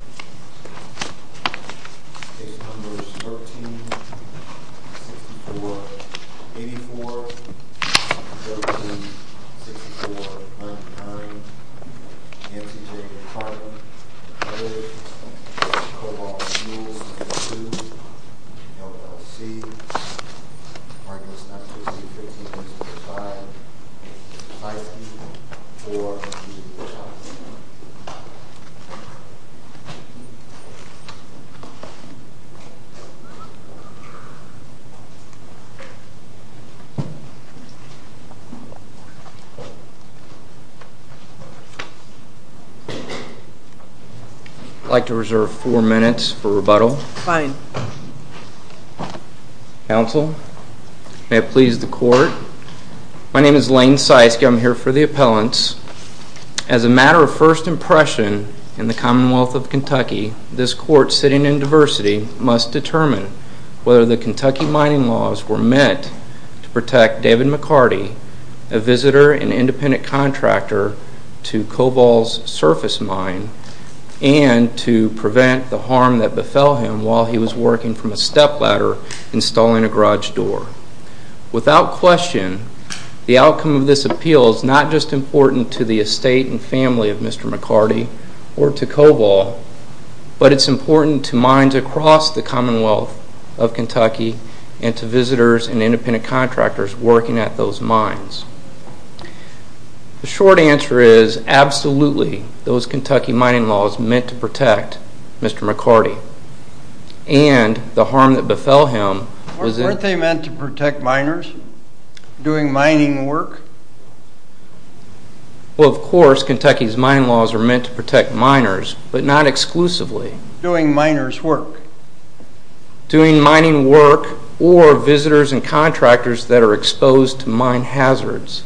Trout v. Chalkie Majesty v. Waldo Page number 13, page 6484, page 13, page 6499. NCJ of Tarleton, C harmless carthouse and chuck v. Chalkie I'd like to reserve four minutes for rebuttal. Fine. Counsel, may it please the court. My name is Lane Seiske. I'm here for the appellants. As a matter of first impression in the Commonwealth of Kentucky, this court sitting in diversity must determine whether the Kentucky mining laws were meant to protect David McCarty, a visitor and independent contractor to Cobol's surface mine, and to prevent the harm that befell him while he was working from a step ladder installing a garage door. Without question, the outcome of this appeal is not just important to the estate and family of Mr. McCarty or to Cobol, but it's important to mines across the Commonwealth of Kentucky and to visitors and independent contractors working at those mines. The short answer is absolutely those Kentucky mining laws meant to protect Mr. McCarty. And the harm that befell him was... Weren't they meant to protect miners? Doing mining work? Well, of course, Kentucky's mining laws are meant to protect miners, but not exclusively. Doing miners work? Doing mining work or visitors and contractors that are exposed to mine hazards.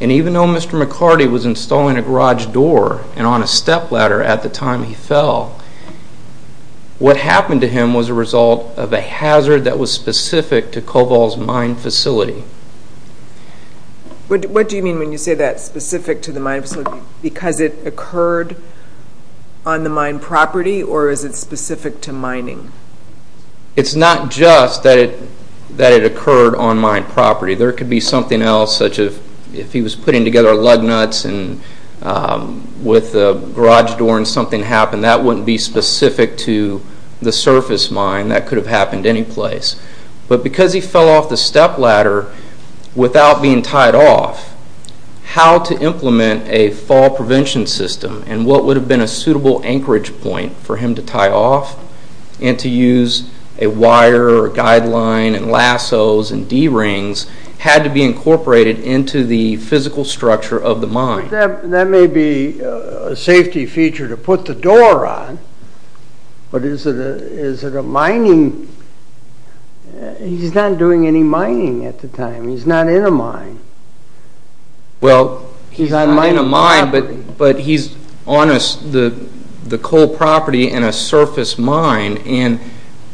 And even though Mr. McCarty was installing a garage door and on a step ladder at the time he fell, what happened to him was a result of a hazard that was specific to Cobol's mine facility. What do you mean when you say that's specific to the mine facility? Because it occurred on the mine property or is it specific to mining? It's not just that it occurred on mine property. There could be something else such as if he was putting together lug nuts and with a garage door and something happened, that wouldn't be specific to the surface mine. That could have happened any place. But because he fell off the step ladder without being tied off, how to implement a fall prevention system and what would have been a suitable anchorage point for him to tie off and to use a wire or a guideline and lassos and D-rings had to be incorporated into the physical structure of the mine. That may be a safety feature to put the door on, but is it a mining... He's not doing any mining at the time. He's not in a mine. Well, he's not in a mine, but he's on the coal property in a surface mine and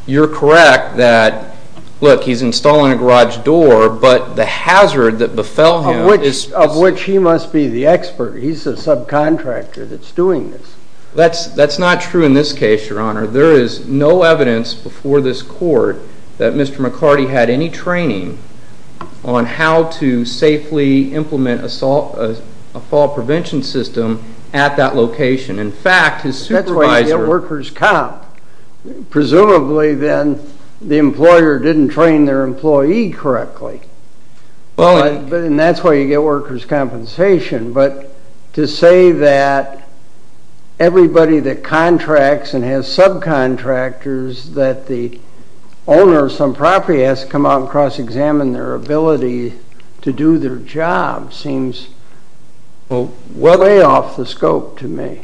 you're correct that, look, he's installing a garage door, but the hazard that befell him... Of which he must be the expert. He's the subcontractor that's doing this. That's not true in this case, Your Honor. There is no evidence before this court that Mr. McCarty had any training on how to safely implement a fall prevention system at that location. In fact, his supervisor... That's why you get workers' comp. Presumably, then, the employer didn't train their employee correctly. And that's why you get workers' compensation. But to say that everybody that contracts and has subcontractors that the owner of some property has to come out and cross-examine their ability to do their job seems well way off the scope to me.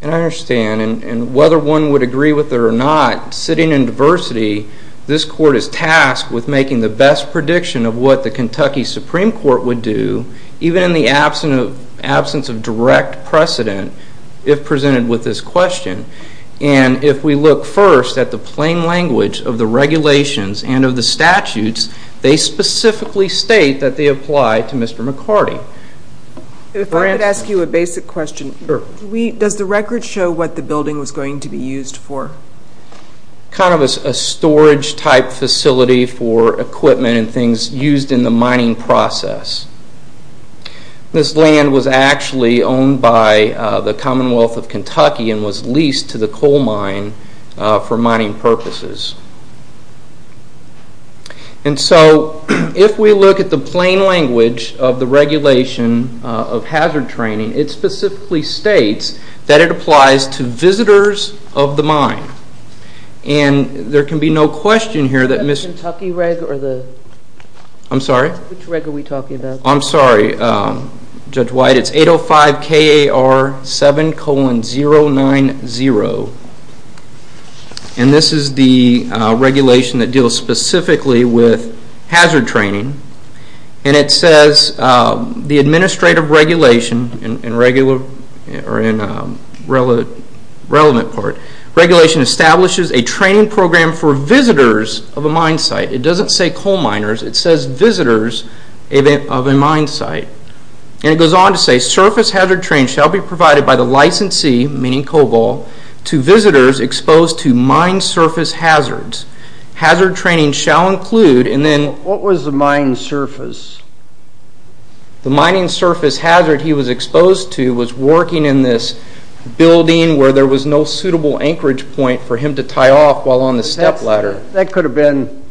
And I understand. And whether one would agree with it or not, sitting in diversity, this court is tasked with making the best prediction of what the Kentucky Supreme Court would do, even in the absence of direct precedent, if presented with this question. And if we look first at the plain language of the regulations and of the statutes, they specifically state that they apply to Mr. McCarty. If I could ask you a basic question. Sure. Does the record show what the building was going to be used for? Kind of a storage-type facility for equipment and things used in the mining process. This land was actually owned by the Commonwealth of Kentucky and was leased to the coal mine for mining purposes. And so if we look at the plain language of the regulation of hazard training, it specifically states that it applies to visitors of the mine. And there can be no question here that Mr.- I'm sorry? Which reg are we talking about? I'm sorry, Judge White. It's 805 KAR 7 colon 090. And this is the regulation that deals specifically with hazard training. And it says the administrative regulation in relevant part, regulation establishes a training program for visitors of a mine site. It doesn't say coal miners. It says visitors of a mine site. And it goes on to say surface hazard training shall be provided by the licensee, meaning Cobol, to visitors exposed to mine surface hazards. Hazard training shall include and then- What was the mine surface? The mining surface hazard he was exposed to was working in this building where there was no suitable anchorage point for him to tie off while on the step ladder. That could have been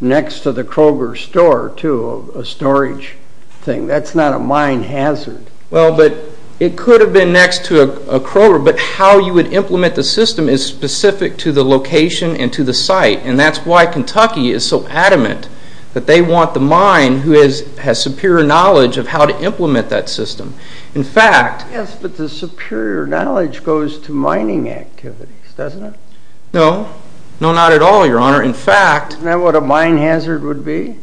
next to the Kroger store, too, a storage thing. That's not a mine hazard. Well, but it could have been next to a Kroger, but how you would implement the system is specific to the location and to the site. And that's why Kentucky is so adamant that they want the mine who has superior knowledge of how to implement that system. In fact- Yes, but the superior knowledge goes to mining activities, doesn't it? No. No, not at all, Your Honor. In fact- Isn't that what a mine hazard would be?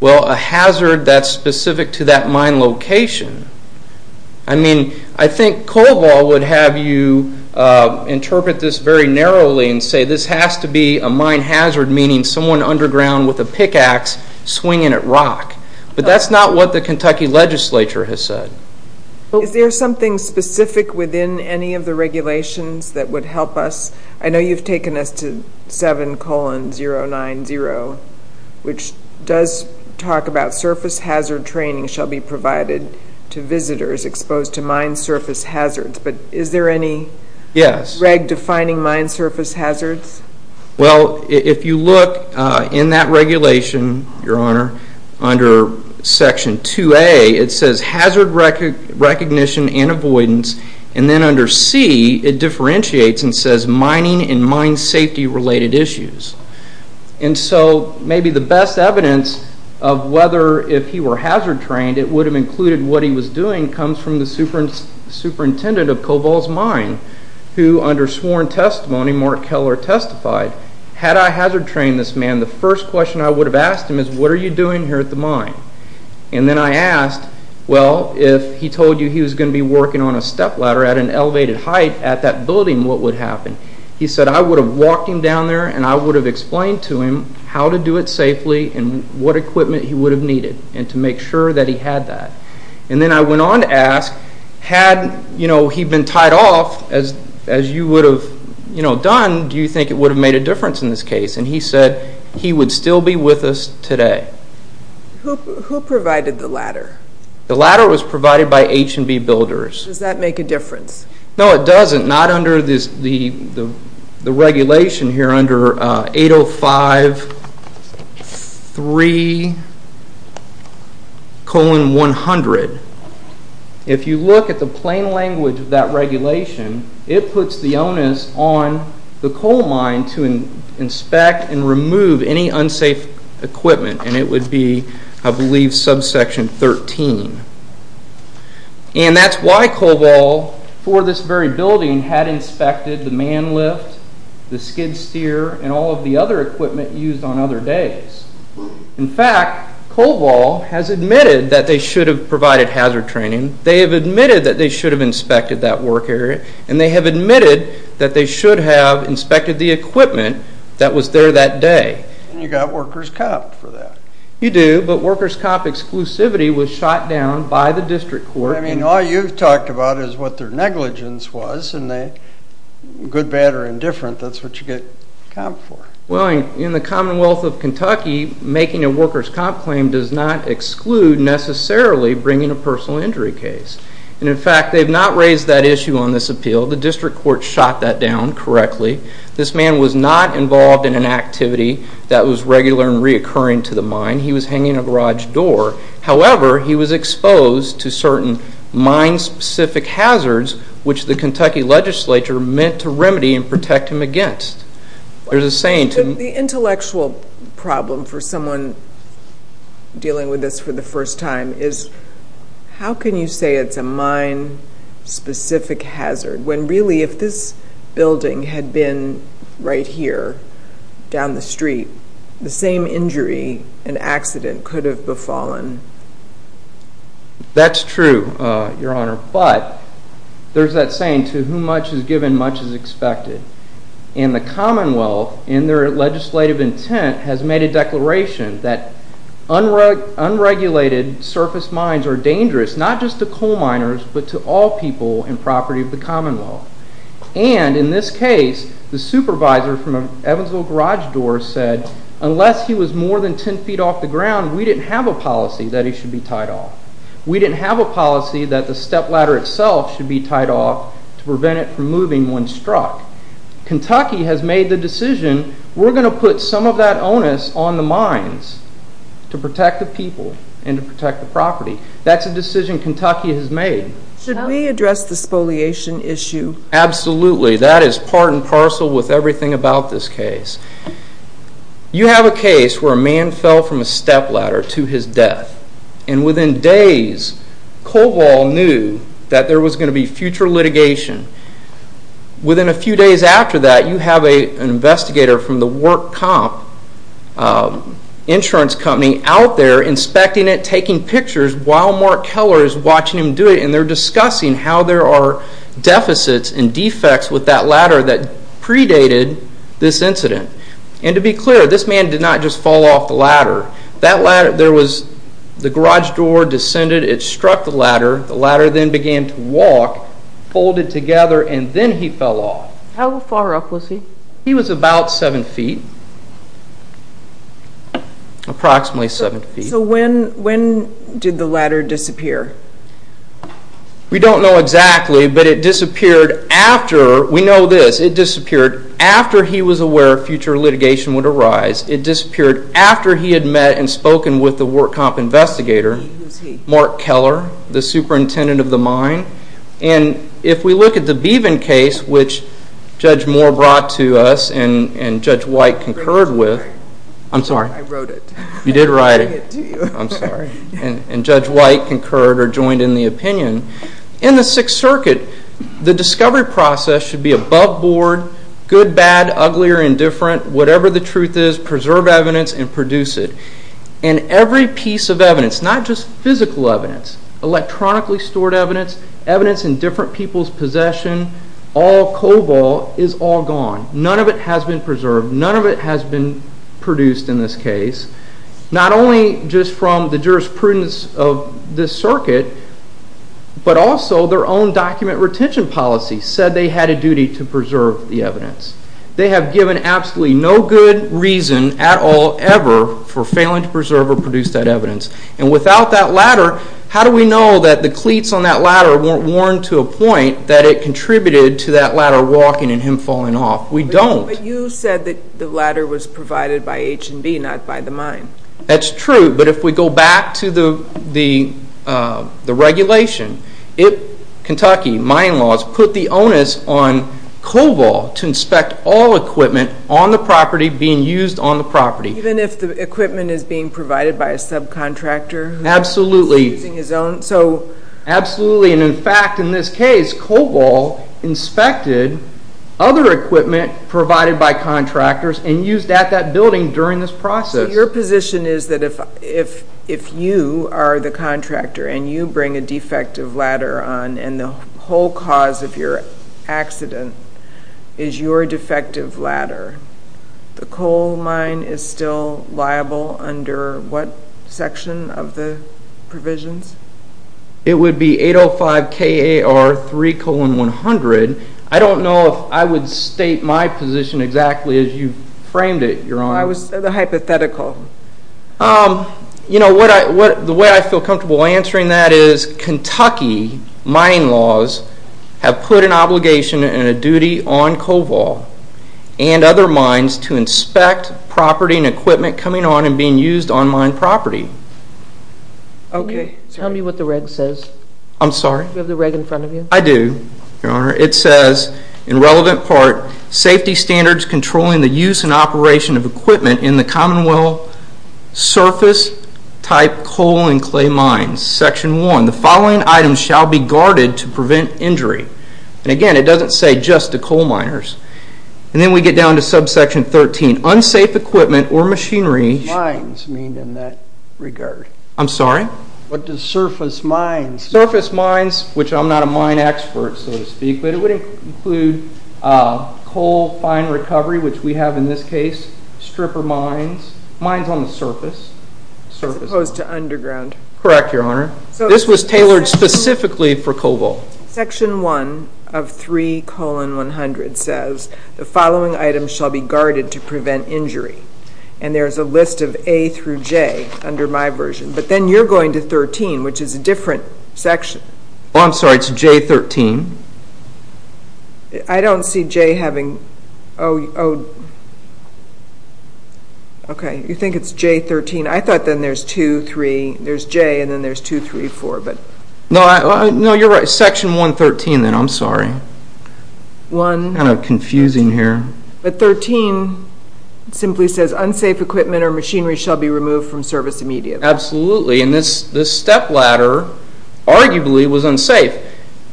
Well, a hazard that's specific to that mine location. I mean, I think Cobol would have you interpret this very narrowly and say this has to be a mine hazard, meaning someone underground with a pickaxe swinging at rock. But that's not what the Kentucky legislature has said. Is there something specific within any of the regulations that would help us? I know you've taken us to 7 colon 090, which does talk about surface hazard training shall be provided to visitors exposed to mine surface hazards. But is there any- Yes. REG defining mine surface hazards? Well, if you look in that regulation, Your Honor, under section 2A, it says hazard recognition and avoidance. And then under C, it differentiates and says mining and mine safety related issues. And so maybe the best evidence of whether if he were hazard trained, it would have included what he was doing, comes from the superintendent of Cobol's mine, who under sworn testimony, Mark Keller testified, had I hazard trained this man, the first question I would have asked him is, what are you doing here at the mine? And then I asked, well, if he told you he was going to be working on a step ladder at an elevated height at that building, what would have happened? He said I would have walked him down there and I would have explained to him how to do it safely and what equipment he would have needed and to make sure that he had that. And then I went on to ask, had he been tied off, as you would have done, do you think it would have made a difference in this case? And he said he would still be with us today. Who provided the ladder? The ladder was provided by H&B builders. Does that make a difference? No, it doesn't, not under the regulation here under 805-3-100. If you look at the plain language of that regulation, it puts the onus on the coal mine to inspect and remove any unsafe equipment and it would be, I believe, subsection 13. And that's why Coval, for this very building, had inspected the man lift, the skid steer, and all of the other equipment used on other days. In fact, Coval has admitted that they should have provided hazard training, they have admitted that they should have inspected that work area, and they have admitted that they should have inspected the equipment that was there that day. And you got workers copped for that. You do, but workers cop exclusivity was shot down by the district court. Well, I mean, all you've talked about is what their negligence was, and good, bad, or indifferent, that's what you get copped for. Well, in the Commonwealth of Kentucky, making a workers cop claim does not exclude, necessarily, bringing a personal injury case. And in fact, they've not raised that issue on this appeal. The district court shot that down correctly. This man was not involved in an activity that was regular and reoccurring to the mine. He was hanging a garage door. However, he was exposed to certain mine-specific hazards, which the Kentucky legislature meant to remedy and protect him against. There's a saying to... The intellectual problem for someone dealing with this for the first time is, how can you say it's a mine-specific hazard when really, if this building had been right here, down the street, the same injury, an accident, could have befallen? That's true, Your Honor. But there's that saying, to whom much is given, much is expected. And the Commonwealth, in their legislative intent, has made a declaration that unregulated surface mines are dangerous, not just to coal miners, but to all people in property of the Commonwealth. And in this case, the supervisor from Evansville Garage Door said, unless he was more than 10 feet off the ground, we didn't have a policy that he should be tied off. We didn't have a policy that the step ladder itself should be tied off to prevent it from moving when struck. Kentucky has made the decision, we're going to put some of that onus on the mines to protect the people and to protect the property. That's a decision Kentucky has made. Should we address the spoliation issue? Absolutely. That is part and parcel with everything about this case. You have a case where a man fell from a step ladder to his death. And within days, Koval knew that there was going to be future litigation. Within a few days after that, you have an investigator from the Work Comp insurance company out there inspecting it, taking pictures, while Mark Keller is watching him do it, and they're discussing how there are deficits and defects with that ladder that predated this incident. And to be clear, this man did not just fall off the ladder. That ladder, there was, the garage door descended, it struck the ladder, the ladder then began to walk, folded together, and then he fell off. How far up was he? He was about 7 feet. Approximately 7 feet. So when did the ladder disappear? We don't know exactly, but it disappeared after, we know this, it disappeared after he was aware future litigation would arise. It disappeared after he had met and spoken with the Work Comp investigator, Mark Keller, the superintendent of the mine. And if we look at the Beaven case, which Judge Moore brought to us and Judge White concurred with, I'm sorry. I wrote it. You did write it. I'm sorry. And Judge White concurred or joined in the opinion. In the Sixth Circuit, the discovery process should be above board, good, bad, ugly, or indifferent, whatever the truth is, preserve evidence and produce it. And every piece of evidence, not just physical evidence, electronically stored evidence, evidence in different people's possession, all cobalt is all gone. None of it has been preserved. None of it has been produced in this case. Not only just from the jurisprudence of this circuit, but also their own document retention policy said they had a duty to preserve the evidence. They have given absolutely no good reason at all ever for failing to preserve or produce that evidence. And without that ladder, how do we know that the cleats on that ladder weren't worn to a point that it contributed to that ladder walking and him falling off? We don't. But you said that the ladder was provided by H&B, not by the mine. That's true. But if we go back to the regulation, Kentucky mine laws put the onus on cobalt to inspect all equipment on the property being used on the property. Even if the equipment is being provided by a subcontractor? Absolutely. Using his own? Absolutely. And in fact, in this case, cobalt inspected other equipment provided by contractors and used at that building during this process. So your position is that if you are the contractor and you bring a defective ladder on, and the whole cause of your accident is your defective ladder, the coal mine is still liable under what section of the provisions? It would be 805KAR3 colon 100. I don't know if I would state my position exactly as you framed it, Your Honor. I was the hypothetical. You know, the way I feel comfortable answering that is, Kentucky mining laws have put an obligation and a duty on cobalt and other mines to inspect property and equipment coming on and being used on mine property. Okay. Tell me what the reg says. I'm sorry? Do you have the reg in front of you? I do, Your Honor. It says, in relevant part, safety standards controlling the use and operation of equipment in the Commonwealth surface-type coal and clay mines. Section 1. The following items shall be guarded to prevent injury. And again, it doesn't say just to coal miners. And then we get down to subsection 13. Unsafe equipment or machinery. What does mines mean in that regard? I'm sorry? What does surface mines mean? Surface mines, which I'm not a mine expert, so to speak, but it would include coal fine recovery, which we have in this case, stripper mines. Mines on the surface. As opposed to underground. Correct, Your Honor. This was tailored specifically for cobalt. Section 1 of 3 colon 100 says, the following items shall be guarded to prevent injury. And there's a list of A through J under my version. But then you're going to 13, which is a different section. Oh, I'm sorry. It's J13. I don't see J having... Okay. You think it's J13. I thought then there's 2, 3. There's J, and then there's 2, 3, 4. No, you're right. Section 113 then. I'm sorry. Kind of confusing here. But 13 simply says, unsafe equipment or machinery shall be removed from service immediately. Absolutely. And this step ladder arguably was unsafe.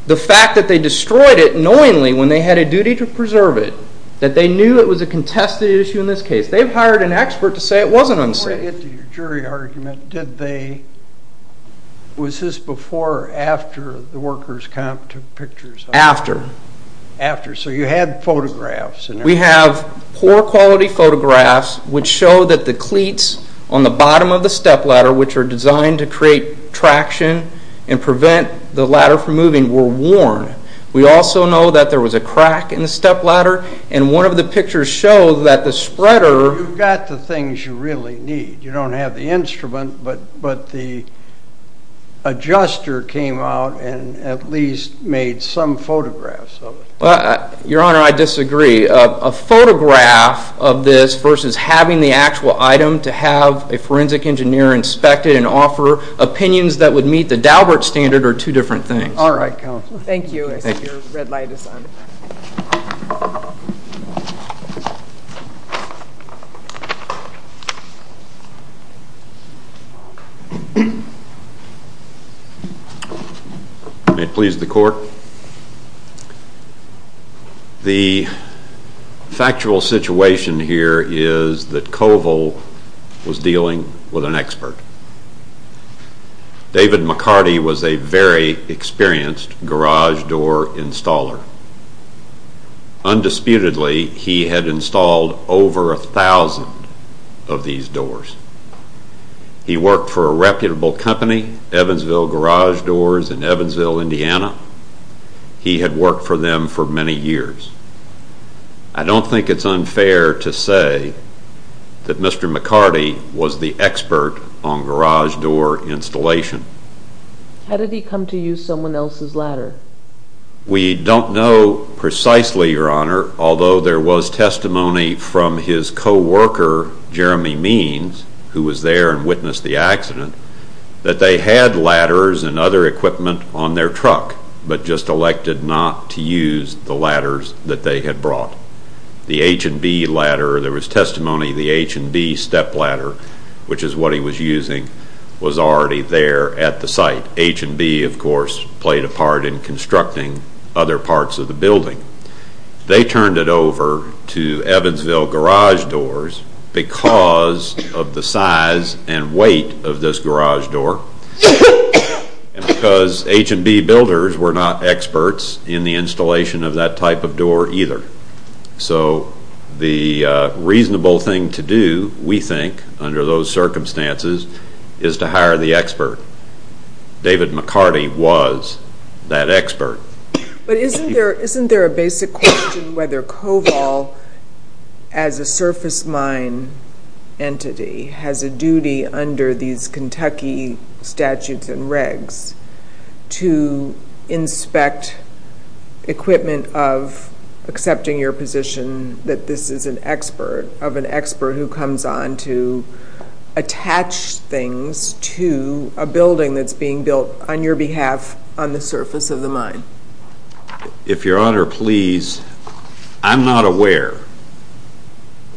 The fact that they destroyed it knowingly when they had a duty to preserve it, that they knew it was a contested issue in this case. They've hired an expert to say it wasn't unsafe. Before I get to your jury argument, did they... Was this before or after the workers' comp took pictures? After. After. So you had photographs. We have poor quality photographs which show that the cleats on the bottom of the step ladder, which are designed to create traction and prevent the ladder from moving, were worn. We also know that there was a crack in the step ladder. And one of the pictures shows that the spreader... You've got the things you really need. You don't have the instrument, but the adjuster came out and at least made some photographs of it. Your Honor, I disagree. A photograph of this versus having the actual item to have a forensic engineer inspect it and offer opinions that would meet the Daubert standard are two different things. All right, Counselor. Thank you. I see your red light is on. May it please the Court. The factual situation here is that Koval was dealing with an expert. David McCarty was a very experienced garage door installer. Undisputedly, he had installed over 1,000 of these doors. He worked for a reputable company, Evansville Garage Doors in Evansville, Indiana. He had worked for them for many years. I don't think it's unfair to say that Mr. McCarty was the expert on garage door installation. How did he come to use someone else's ladder? We don't know precisely, Your Honor, although there was testimony from his coworker, Jeremy Means, who was there and witnessed the accident, that they had ladders and other equipment on their truck, but just elected not to use the ladders that they had brought. The H&B ladder, there was testimony the H&B step ladder, which is what he was using, was already there at the site. H&B, of course, played a part in constructing other parts of the building. They turned it over to Evansville Garage Doors because of the size and weight of this garage door and because H&B builders were not experts in the installation of that type of door either. So the reasonable thing to do, we think, under those circumstances, is to hire the expert. David McCarty was that expert. But isn't there a basic question whether Koval, as a surface mine entity, has a duty under these Kentucky statutes and regs to inspect equipment of, accepting your position that this is an expert, of an expert who comes on to attach things to a building that's being built on your behalf on the surface of the mine? If Your Honor, please, I'm not aware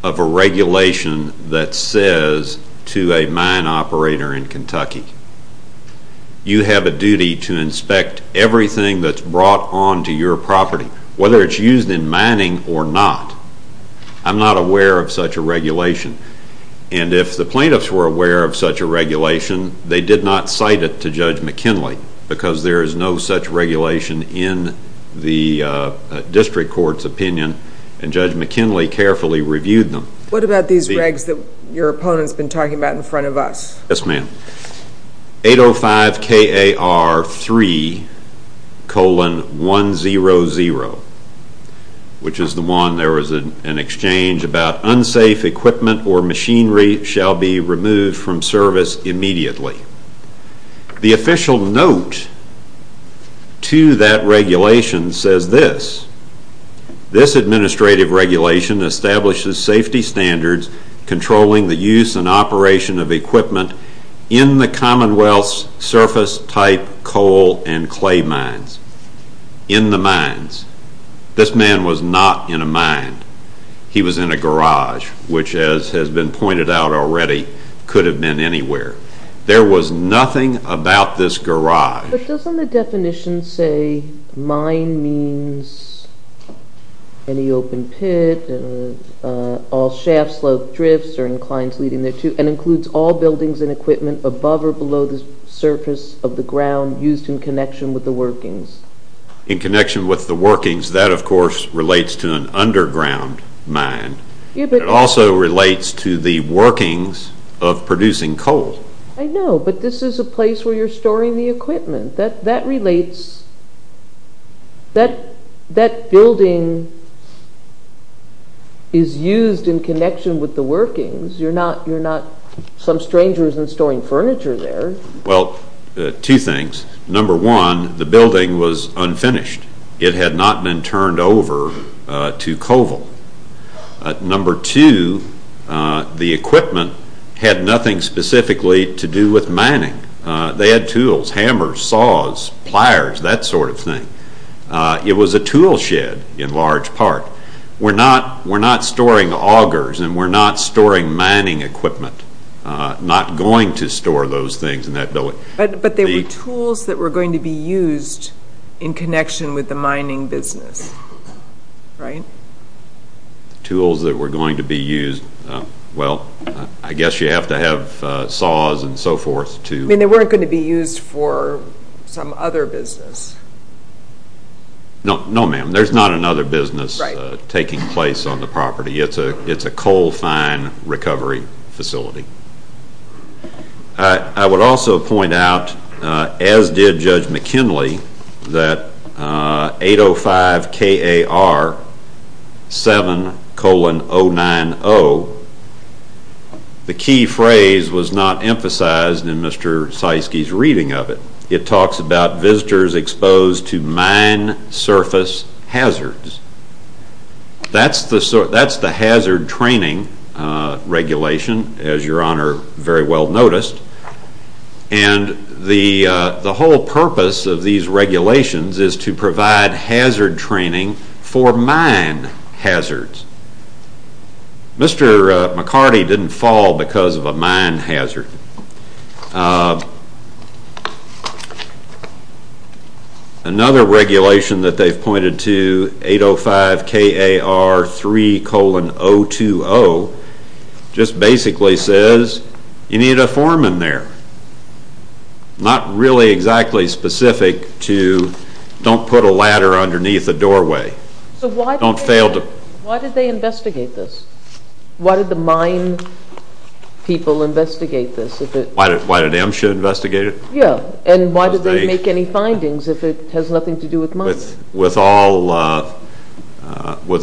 of a regulation that says to a mine operator in Kentucky, you have a duty to inspect everything that's brought onto your property, whether it's used in mining or not. I'm not aware of such a regulation. And if the plaintiffs were aware of such a regulation, they did not cite it to Judge McKinley because there is no such regulation in the district court's opinion and Judge McKinley carefully reviewed them. What about these regs that your opponent's been talking about in front of us? Yes, ma'am. 805KAR3 colon 100, which is the one there was an exchange about unsafe equipment or machinery shall be removed from service immediately. The official note to that regulation says this. This administrative regulation establishes safety standards controlling the use and operation of equipment in the Commonwealth's surface type coal and clay mines. In the mines. This man was not in a mine. He was in a garage, which as has been pointed out already, could have been anywhere. There was nothing about this garage. But doesn't the definition say, mine means any open pit, all shafts, slopes, drifts, or inclines leading there to, and includes all buildings and equipment above or below the surface of the ground used in connection with the workings. In connection with the workings, that of course relates to an underground mine. It also relates to the workings of producing coal. I know, but this is a place where you're storing the equipment. That relates. That building is used in connection with the workings. You're not some strangers in storing furniture there. Well, two things. Number one, the building was unfinished. It had not been turned over to COVIL. Number two, the equipment had nothing specifically to do with mining. They had tools, hammers, saws, pliers, that sort of thing. It was a tool shed in large part. We're not storing augers and we're not storing mining equipment. Not going to store those things in that building. But there were tools that were going to be used in connection with the mining business. Right? Tools that were going to be used. Well, I guess you have to have saws and so forth. They weren't going to be used for some other business. No, ma'am. There's not another business taking place on the property. It's a coal fine recovery facility. I would also point out, as did Judge McKinley, that 805 K.A.R. 7 colon 090, the key phrase was not emphasized in Mr. Zeiske's reading of it. It talks about visitors exposed to mine surface hazards. That's the hazard training regulation, as your Honor very well noticed. And the whole purpose of these regulations is to provide hazard training for mine hazards. Mr. McCarty didn't fall because of a mine hazard. Another regulation that they've pointed to, 805 K.A.R. 3 colon 020, just basically says you need a foreman there. Not really exactly specific to don't put a ladder underneath a doorway. Why did they investigate this? Why did the mine people investigate this? Why did MSHA investigate it? Yeah. And why did they make any findings if it has nothing to do with mines? With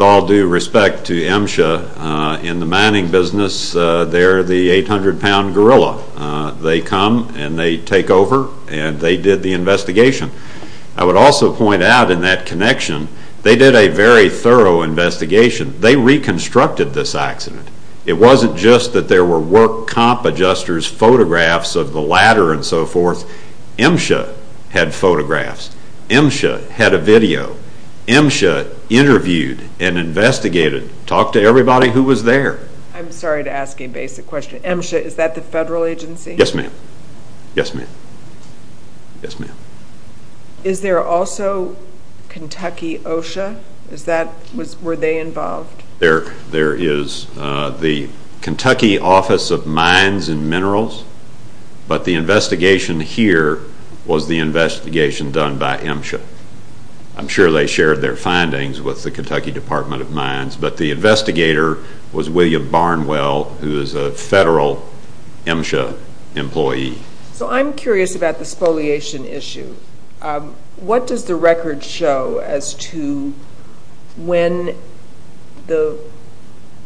all due respect to MSHA, in the mining business, they're the 800-pound gorilla. They come and they take over and they did the investigation. I would also point out in that connection, they did a very thorough investigation. They reconstructed this accident. It wasn't just that there were work comp adjusters, photographs of the ladder and so forth. MSHA had photographs. MSHA had a video. MSHA interviewed and investigated. Talked to everybody who was there. I'm sorry to ask a basic question. MSHA, is that the federal agency? Yes, ma'am. Yes, ma'am. Yes, ma'am. Is there also Kentucky OSHA? Were they involved? There is the Kentucky Office of Mines and Minerals, but the investigation here was the investigation done by MSHA. I'm sure they shared their findings with the Kentucky Department of Mines, but the investigator was William Barnwell, who is a federal MSHA employee. So I'm curious about the spoliation issue. What does the record show as to when the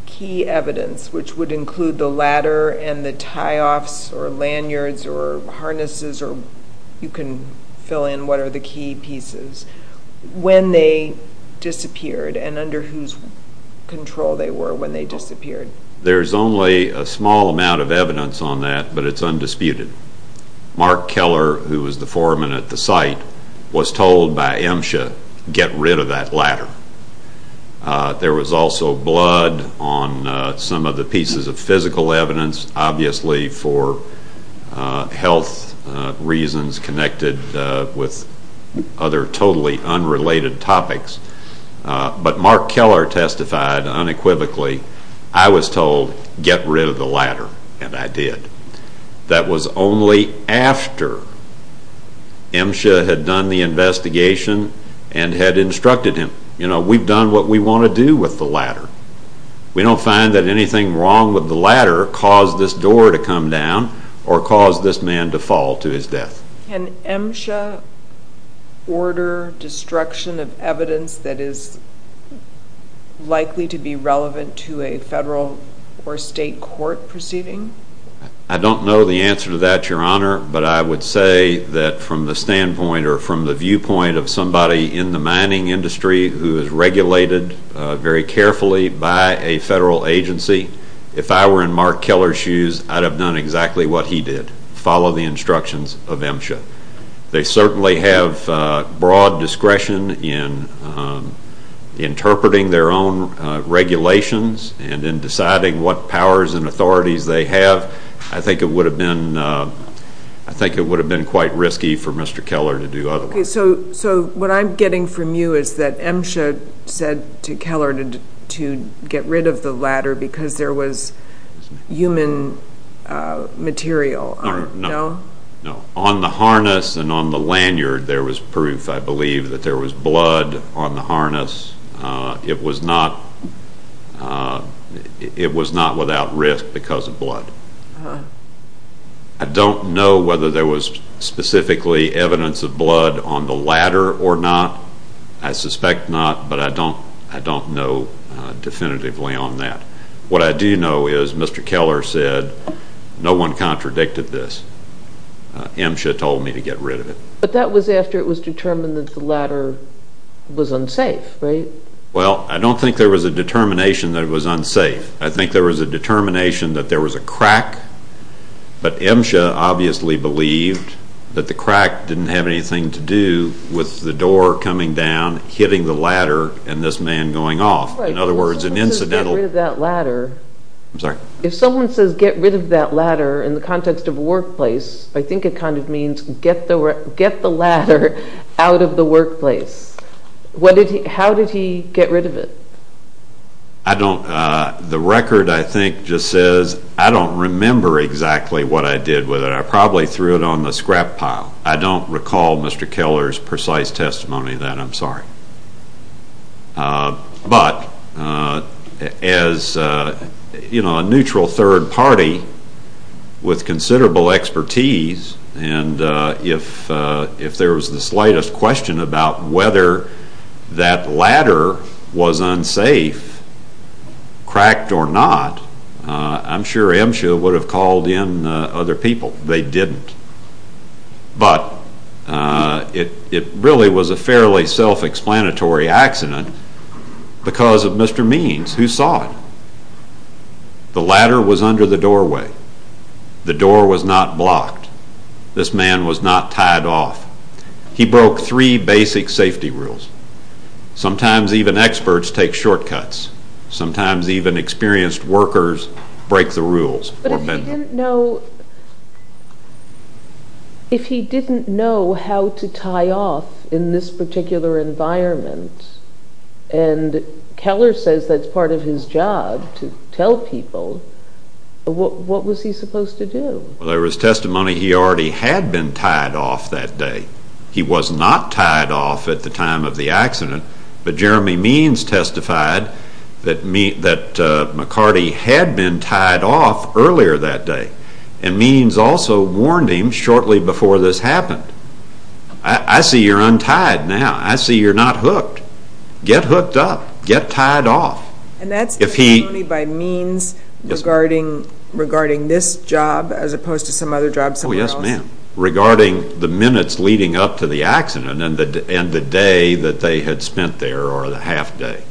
key evidence, which would include the ladder and the tie-offs or lanyards or harnesses, or you can fill in what are the key pieces, when they disappeared and under whose control they were when they disappeared? There's only a small amount of evidence on that, but it's undisputed. Mark Keller, who was the foreman at the site, was told by MSHA, get rid of that ladder. There was also blood on some of the pieces of physical evidence, obviously for health reasons connected with other totally unrelated topics. But Mark Keller testified unequivocally, I was told, get rid of the ladder, and I did. That was only after MSHA had done the investigation and had instructed him. You know, we've done what we want to do with the ladder. We don't find that anything wrong with the ladder caused this door to come down or caused this man to fall to his death. Can MSHA order destruction of evidence that is likely to be relevant to a federal or state court proceeding? I don't know the answer to that, Your Honor, but I would say that from the standpoint or from the viewpoint of somebody in the mining industry who is regulated very carefully by a federal agency, if I were in Mark Keller's shoes, I'd have done exactly what he did, follow the instructions of MSHA. They certainly have broad discretion in interpreting their own regulations and in deciding what powers and authorities they have. I think it would have been quite risky for Mr. Keller to do otherwise. So what I'm getting from you is that MSHA said to Keller to get rid of the ladder because there was human material. No. No. On the harness and on the lanyard there was proof, I believe, that there was blood on the harness. It was not without risk because of blood. I don't know whether there was specifically evidence of blood on the ladder or not. I suspect not, but I don't know definitively on that. What I do know is Mr. Keller said, no one contradicted this. MSHA told me to get rid of it. But that was after it was determined that the ladder was unsafe, right? Well, I don't think there was a determination that it was unsafe. I think there was a determination that there was a crack, but MSHA obviously believed that the crack didn't have anything to do with the door coming down, hitting the ladder, and this man going off. Right. In other words, an incidental... Get rid of that ladder. I'm sorry? If someone says get rid of that ladder in the context of a workplace, I think it kind of means get the ladder out of the workplace. How did he get rid of it? The record, I think, just says I don't remember exactly what I did with it. I probably threw it on the scrap pile. I don't recall Mr. Keller's precise testimony of that. I'm sorry. But as a neutral third party with considerable expertise, and if there was the slightest question about whether that ladder was unsafe, cracked or not, I'm sure MSHA would have called in other people. They didn't. But it really was a fairly self-explanatory accident because of Mr. Means, who saw it. The ladder was under the doorway. The door was not blocked. This man was not tied off. He broke three basic safety rules. Sometimes even experts take shortcuts. Sometimes even experienced workers break the rules. But if he didn't know how to tie off in this particular environment, and Keller says that's part of his job to tell people, what was he supposed to do? There was testimony he already had been tied off that day. He was not tied off at the time of the accident, but Jeremy Means testified that McCarty had been tied off earlier that day. And Means also warned him shortly before this happened. I see you're untied now. I see you're not hooked. Get hooked up. Get tied off. And that's testimony by Means regarding this job as opposed to some other job somewhere else? Regarding the minutes leading up to the accident and the day that they had spent there, or the half day.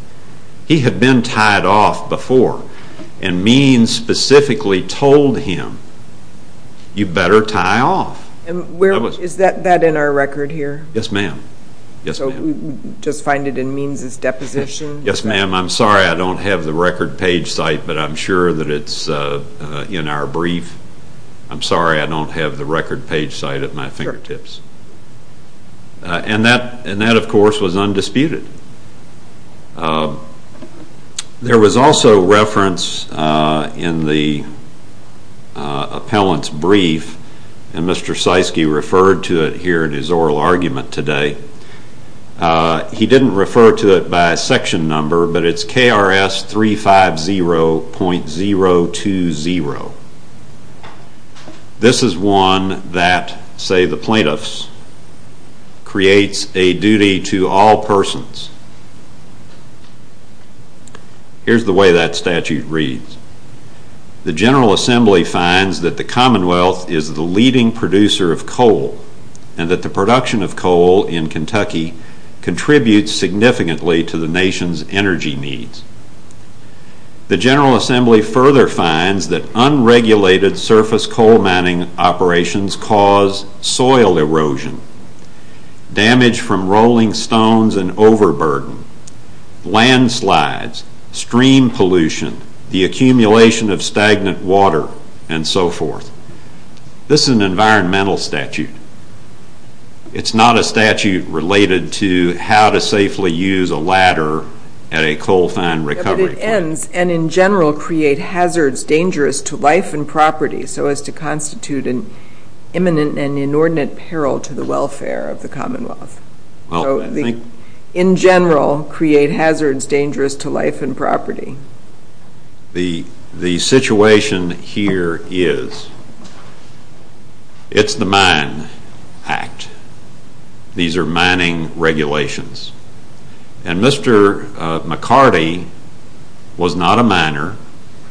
He had been tied off before, and Means specifically told him, you better tie off. Is that in our record here? Yes, ma'am. So we just find it in Means' deposition? Yes, ma'am. I'm sorry I don't have the record page site, but I'm sure that it's in our brief. I'm sorry I don't have the record page site at my fingertips. And that, of course, was undisputed. There was also reference in the appellant's brief, and Mr. Seisky referred to it here in his oral argument today. He didn't refer to it by section number, but it's KRS 350.020. This is one that, say the plaintiffs, creates a duty to all persons. Here's the way that statute reads. The General Assembly finds that the Commonwealth is the leading producer of coal, and that the production of coal in Kentucky contributes significantly to the nation's energy needs. The General Assembly further finds that unregulated surface coal mining operations cause soil erosion, damage from rolling stones and overburden, landslides, stream pollution, the accumulation of stagnant water, and so forth. This is an environmental statute. It's not a statute related to how to safely use a ladder at a coal-fine recovery point. It ends, and in general, create hazards dangerous to life and property, so as to constitute an imminent and inordinate peril to the welfare of the Commonwealth. In general, create hazards dangerous to life and property. The situation here is, it's the Mine Act. These are mining regulations, and Mr. McCarty was not a miner.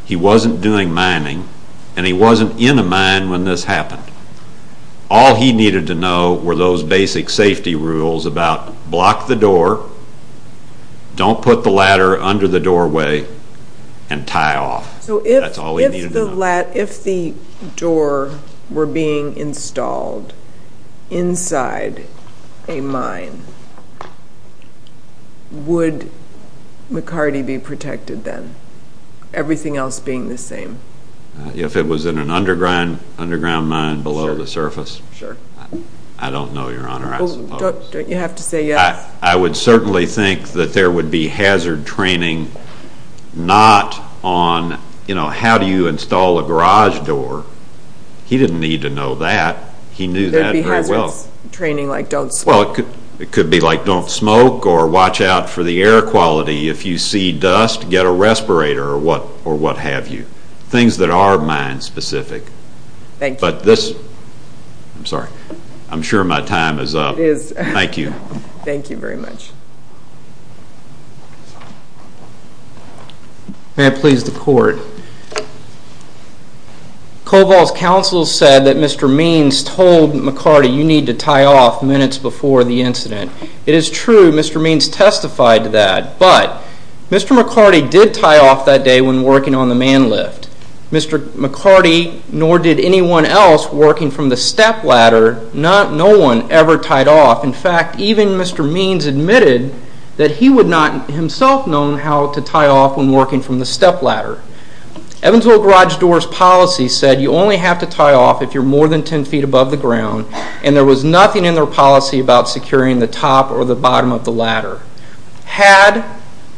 He wasn't doing mining, and he wasn't in a mine when this happened. All he needed to know were those basic safety rules about block the door, don't put the ladder under the doorway, and tie off. That's all he needed to know. So if the door were being installed inside a mine, would McCarty be protected then? Everything else being the same? If it was in an underground mine below the surface? Sure. I don't know, Your Honor, I suppose. Don't you have to say yes? I would certainly think that there would be hazard training not on, you know, how do you install a garage door? He didn't need to know that. He knew that very well. There would be hazard training like don't smoke. Well, it could be like don't smoke or watch out for the air quality. If you see dust, get a respirator or what have you. Things that are mine specific. Thank you. But this, I'm sorry, I'm sure my time is up. It is. Thank you. Thank you very much. May I please the court? Cobol's counsel said that Mr. Means told McCarty, you need to tie off minutes before the incident. It is true. Mr. Means testified to that. But Mr. McCarty did tie off that day when working on the man lift. Mr. McCarty nor did anyone else working from the step ladder, no one ever tied off. In fact, even Mr. Means admitted that he would not himself known how to tie off when working from the step ladder. Evansville garage doors policy said you only have to tie off if you're more than 10 feet above the ground and there was nothing in their policy about securing the top or the bottom of the ladder. Had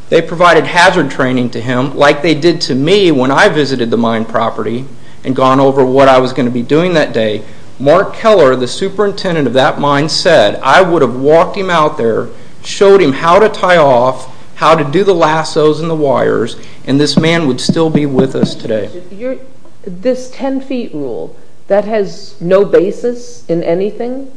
they provided hazard training to him like they did to me when I visited the mine property and gone over what I was going to be doing that day, Mark Keller, the superintendent of that mine said, I would have walked him out there, showed him how to tie off, how to do the lassos and the wires, and this man would still be with us today. This 10 feet rule, that has no basis in anything?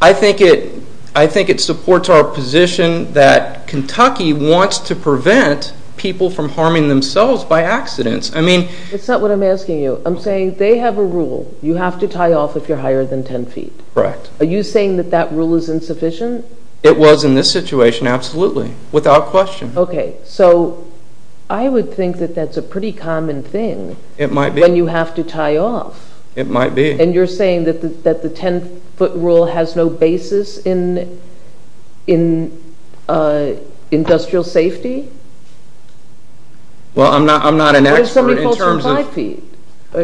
I think it supports our position that Kentucky wants to prevent people from harming themselves by accidents. It's not what I'm asking you. I'm saying they have a rule, you have to tie off if you're higher than 10 feet. Are you saying that that rule is insufficient? It was in this situation, absolutely, without question. Okay. So I would think that that's a pretty common thing. It might be. When you have to tie off. It might be. And you're saying that the 10 foot rule has no basis in industrial safety? Well, I'm not an expert in terms of... Why does somebody fall from 5 feet?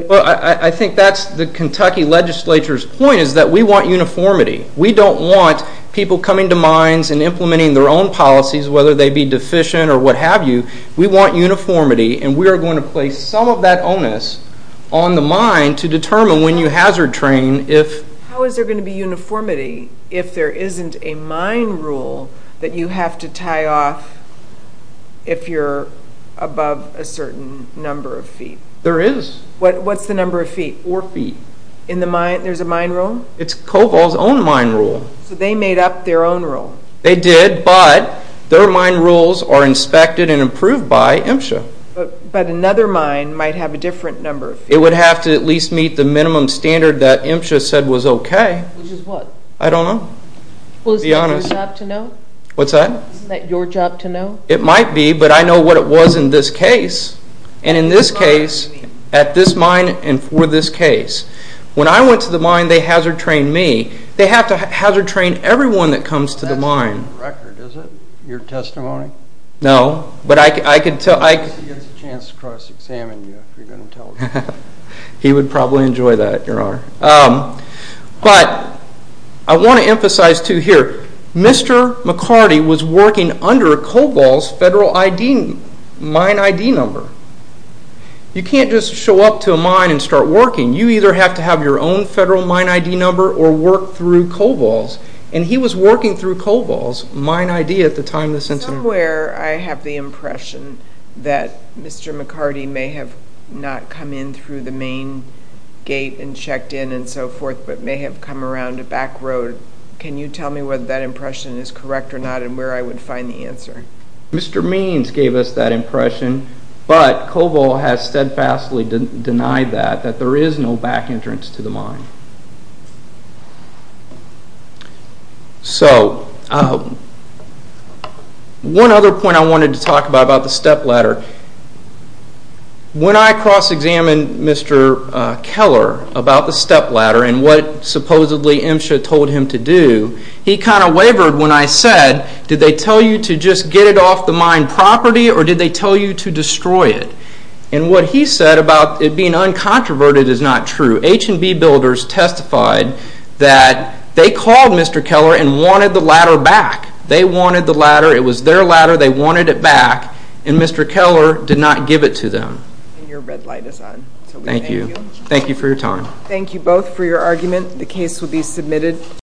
Well, I think that's the Kentucky legislature's point, is that we want uniformity. We don't want people coming to mines and implementing their own policies, whether they be deficient or what have you. We want uniformity, and we are going to place some of that onus on the mine to determine when you hazard train if... How is there going to be uniformity if there isn't a mine rule that you have to tie off if you're above a certain number of feet? There is. What's the number of feet? Four feet. In the mine? There's a mine rule? It's Coval's own mine rule. So they made up their own rule? They did, but their mine rules are inspected and approved by MSHA. But another mine might have a different number of feet. It would have to at least meet the minimum standard that MSHA said was okay. Which is what? I don't know. Well, isn't that your job to know? What's that? Isn't that your job to know? It might be, but I know what it was in this case. And in this case, at this mine, and for this case. When I went to the mine, they hazard trained me. They have to hazard train everyone that comes to the mine. That's on the record, is it? Your testimony? No. But I can tell... He gets a chance to cross-examine you if you're going to tell the truth. He would probably enjoy that, Your Honor. But I want to emphasize too here, Mr. McCarty was working under Coval's federal mine ID number. You can't just show up to a mine and start working. You either have to have your own federal mine ID number or work through Coval's. And he was working through Coval's mine ID at the time of this incident. Somewhere I have the impression that Mr. McCarty may have not come in through the main gate and checked in and so forth, but may have come around a back road. Can you tell me whether that impression is correct or not and where I would find the answer? Mr. Means gave us that impression. But Coval has steadfastly denied that, that there is no back entrance to the mine. So one other point I wanted to talk about, about the step ladder. When I cross-examined Mr. Keller about the step ladder and what supposedly MSHA told him to do, he kind of wavered when I said, did they tell you to just get it off the mine property or did they tell you to destroy it? And what he said about it being uncontroverted is not true. H&B builders testified that they called Mr. Keller and wanted the ladder back. They wanted the ladder. It was their ladder. They wanted it back. And Mr. Keller did not give it to them. And your red light is on. Thank you. Thank you for your time. Thank you both for your argument. The case will be submitted.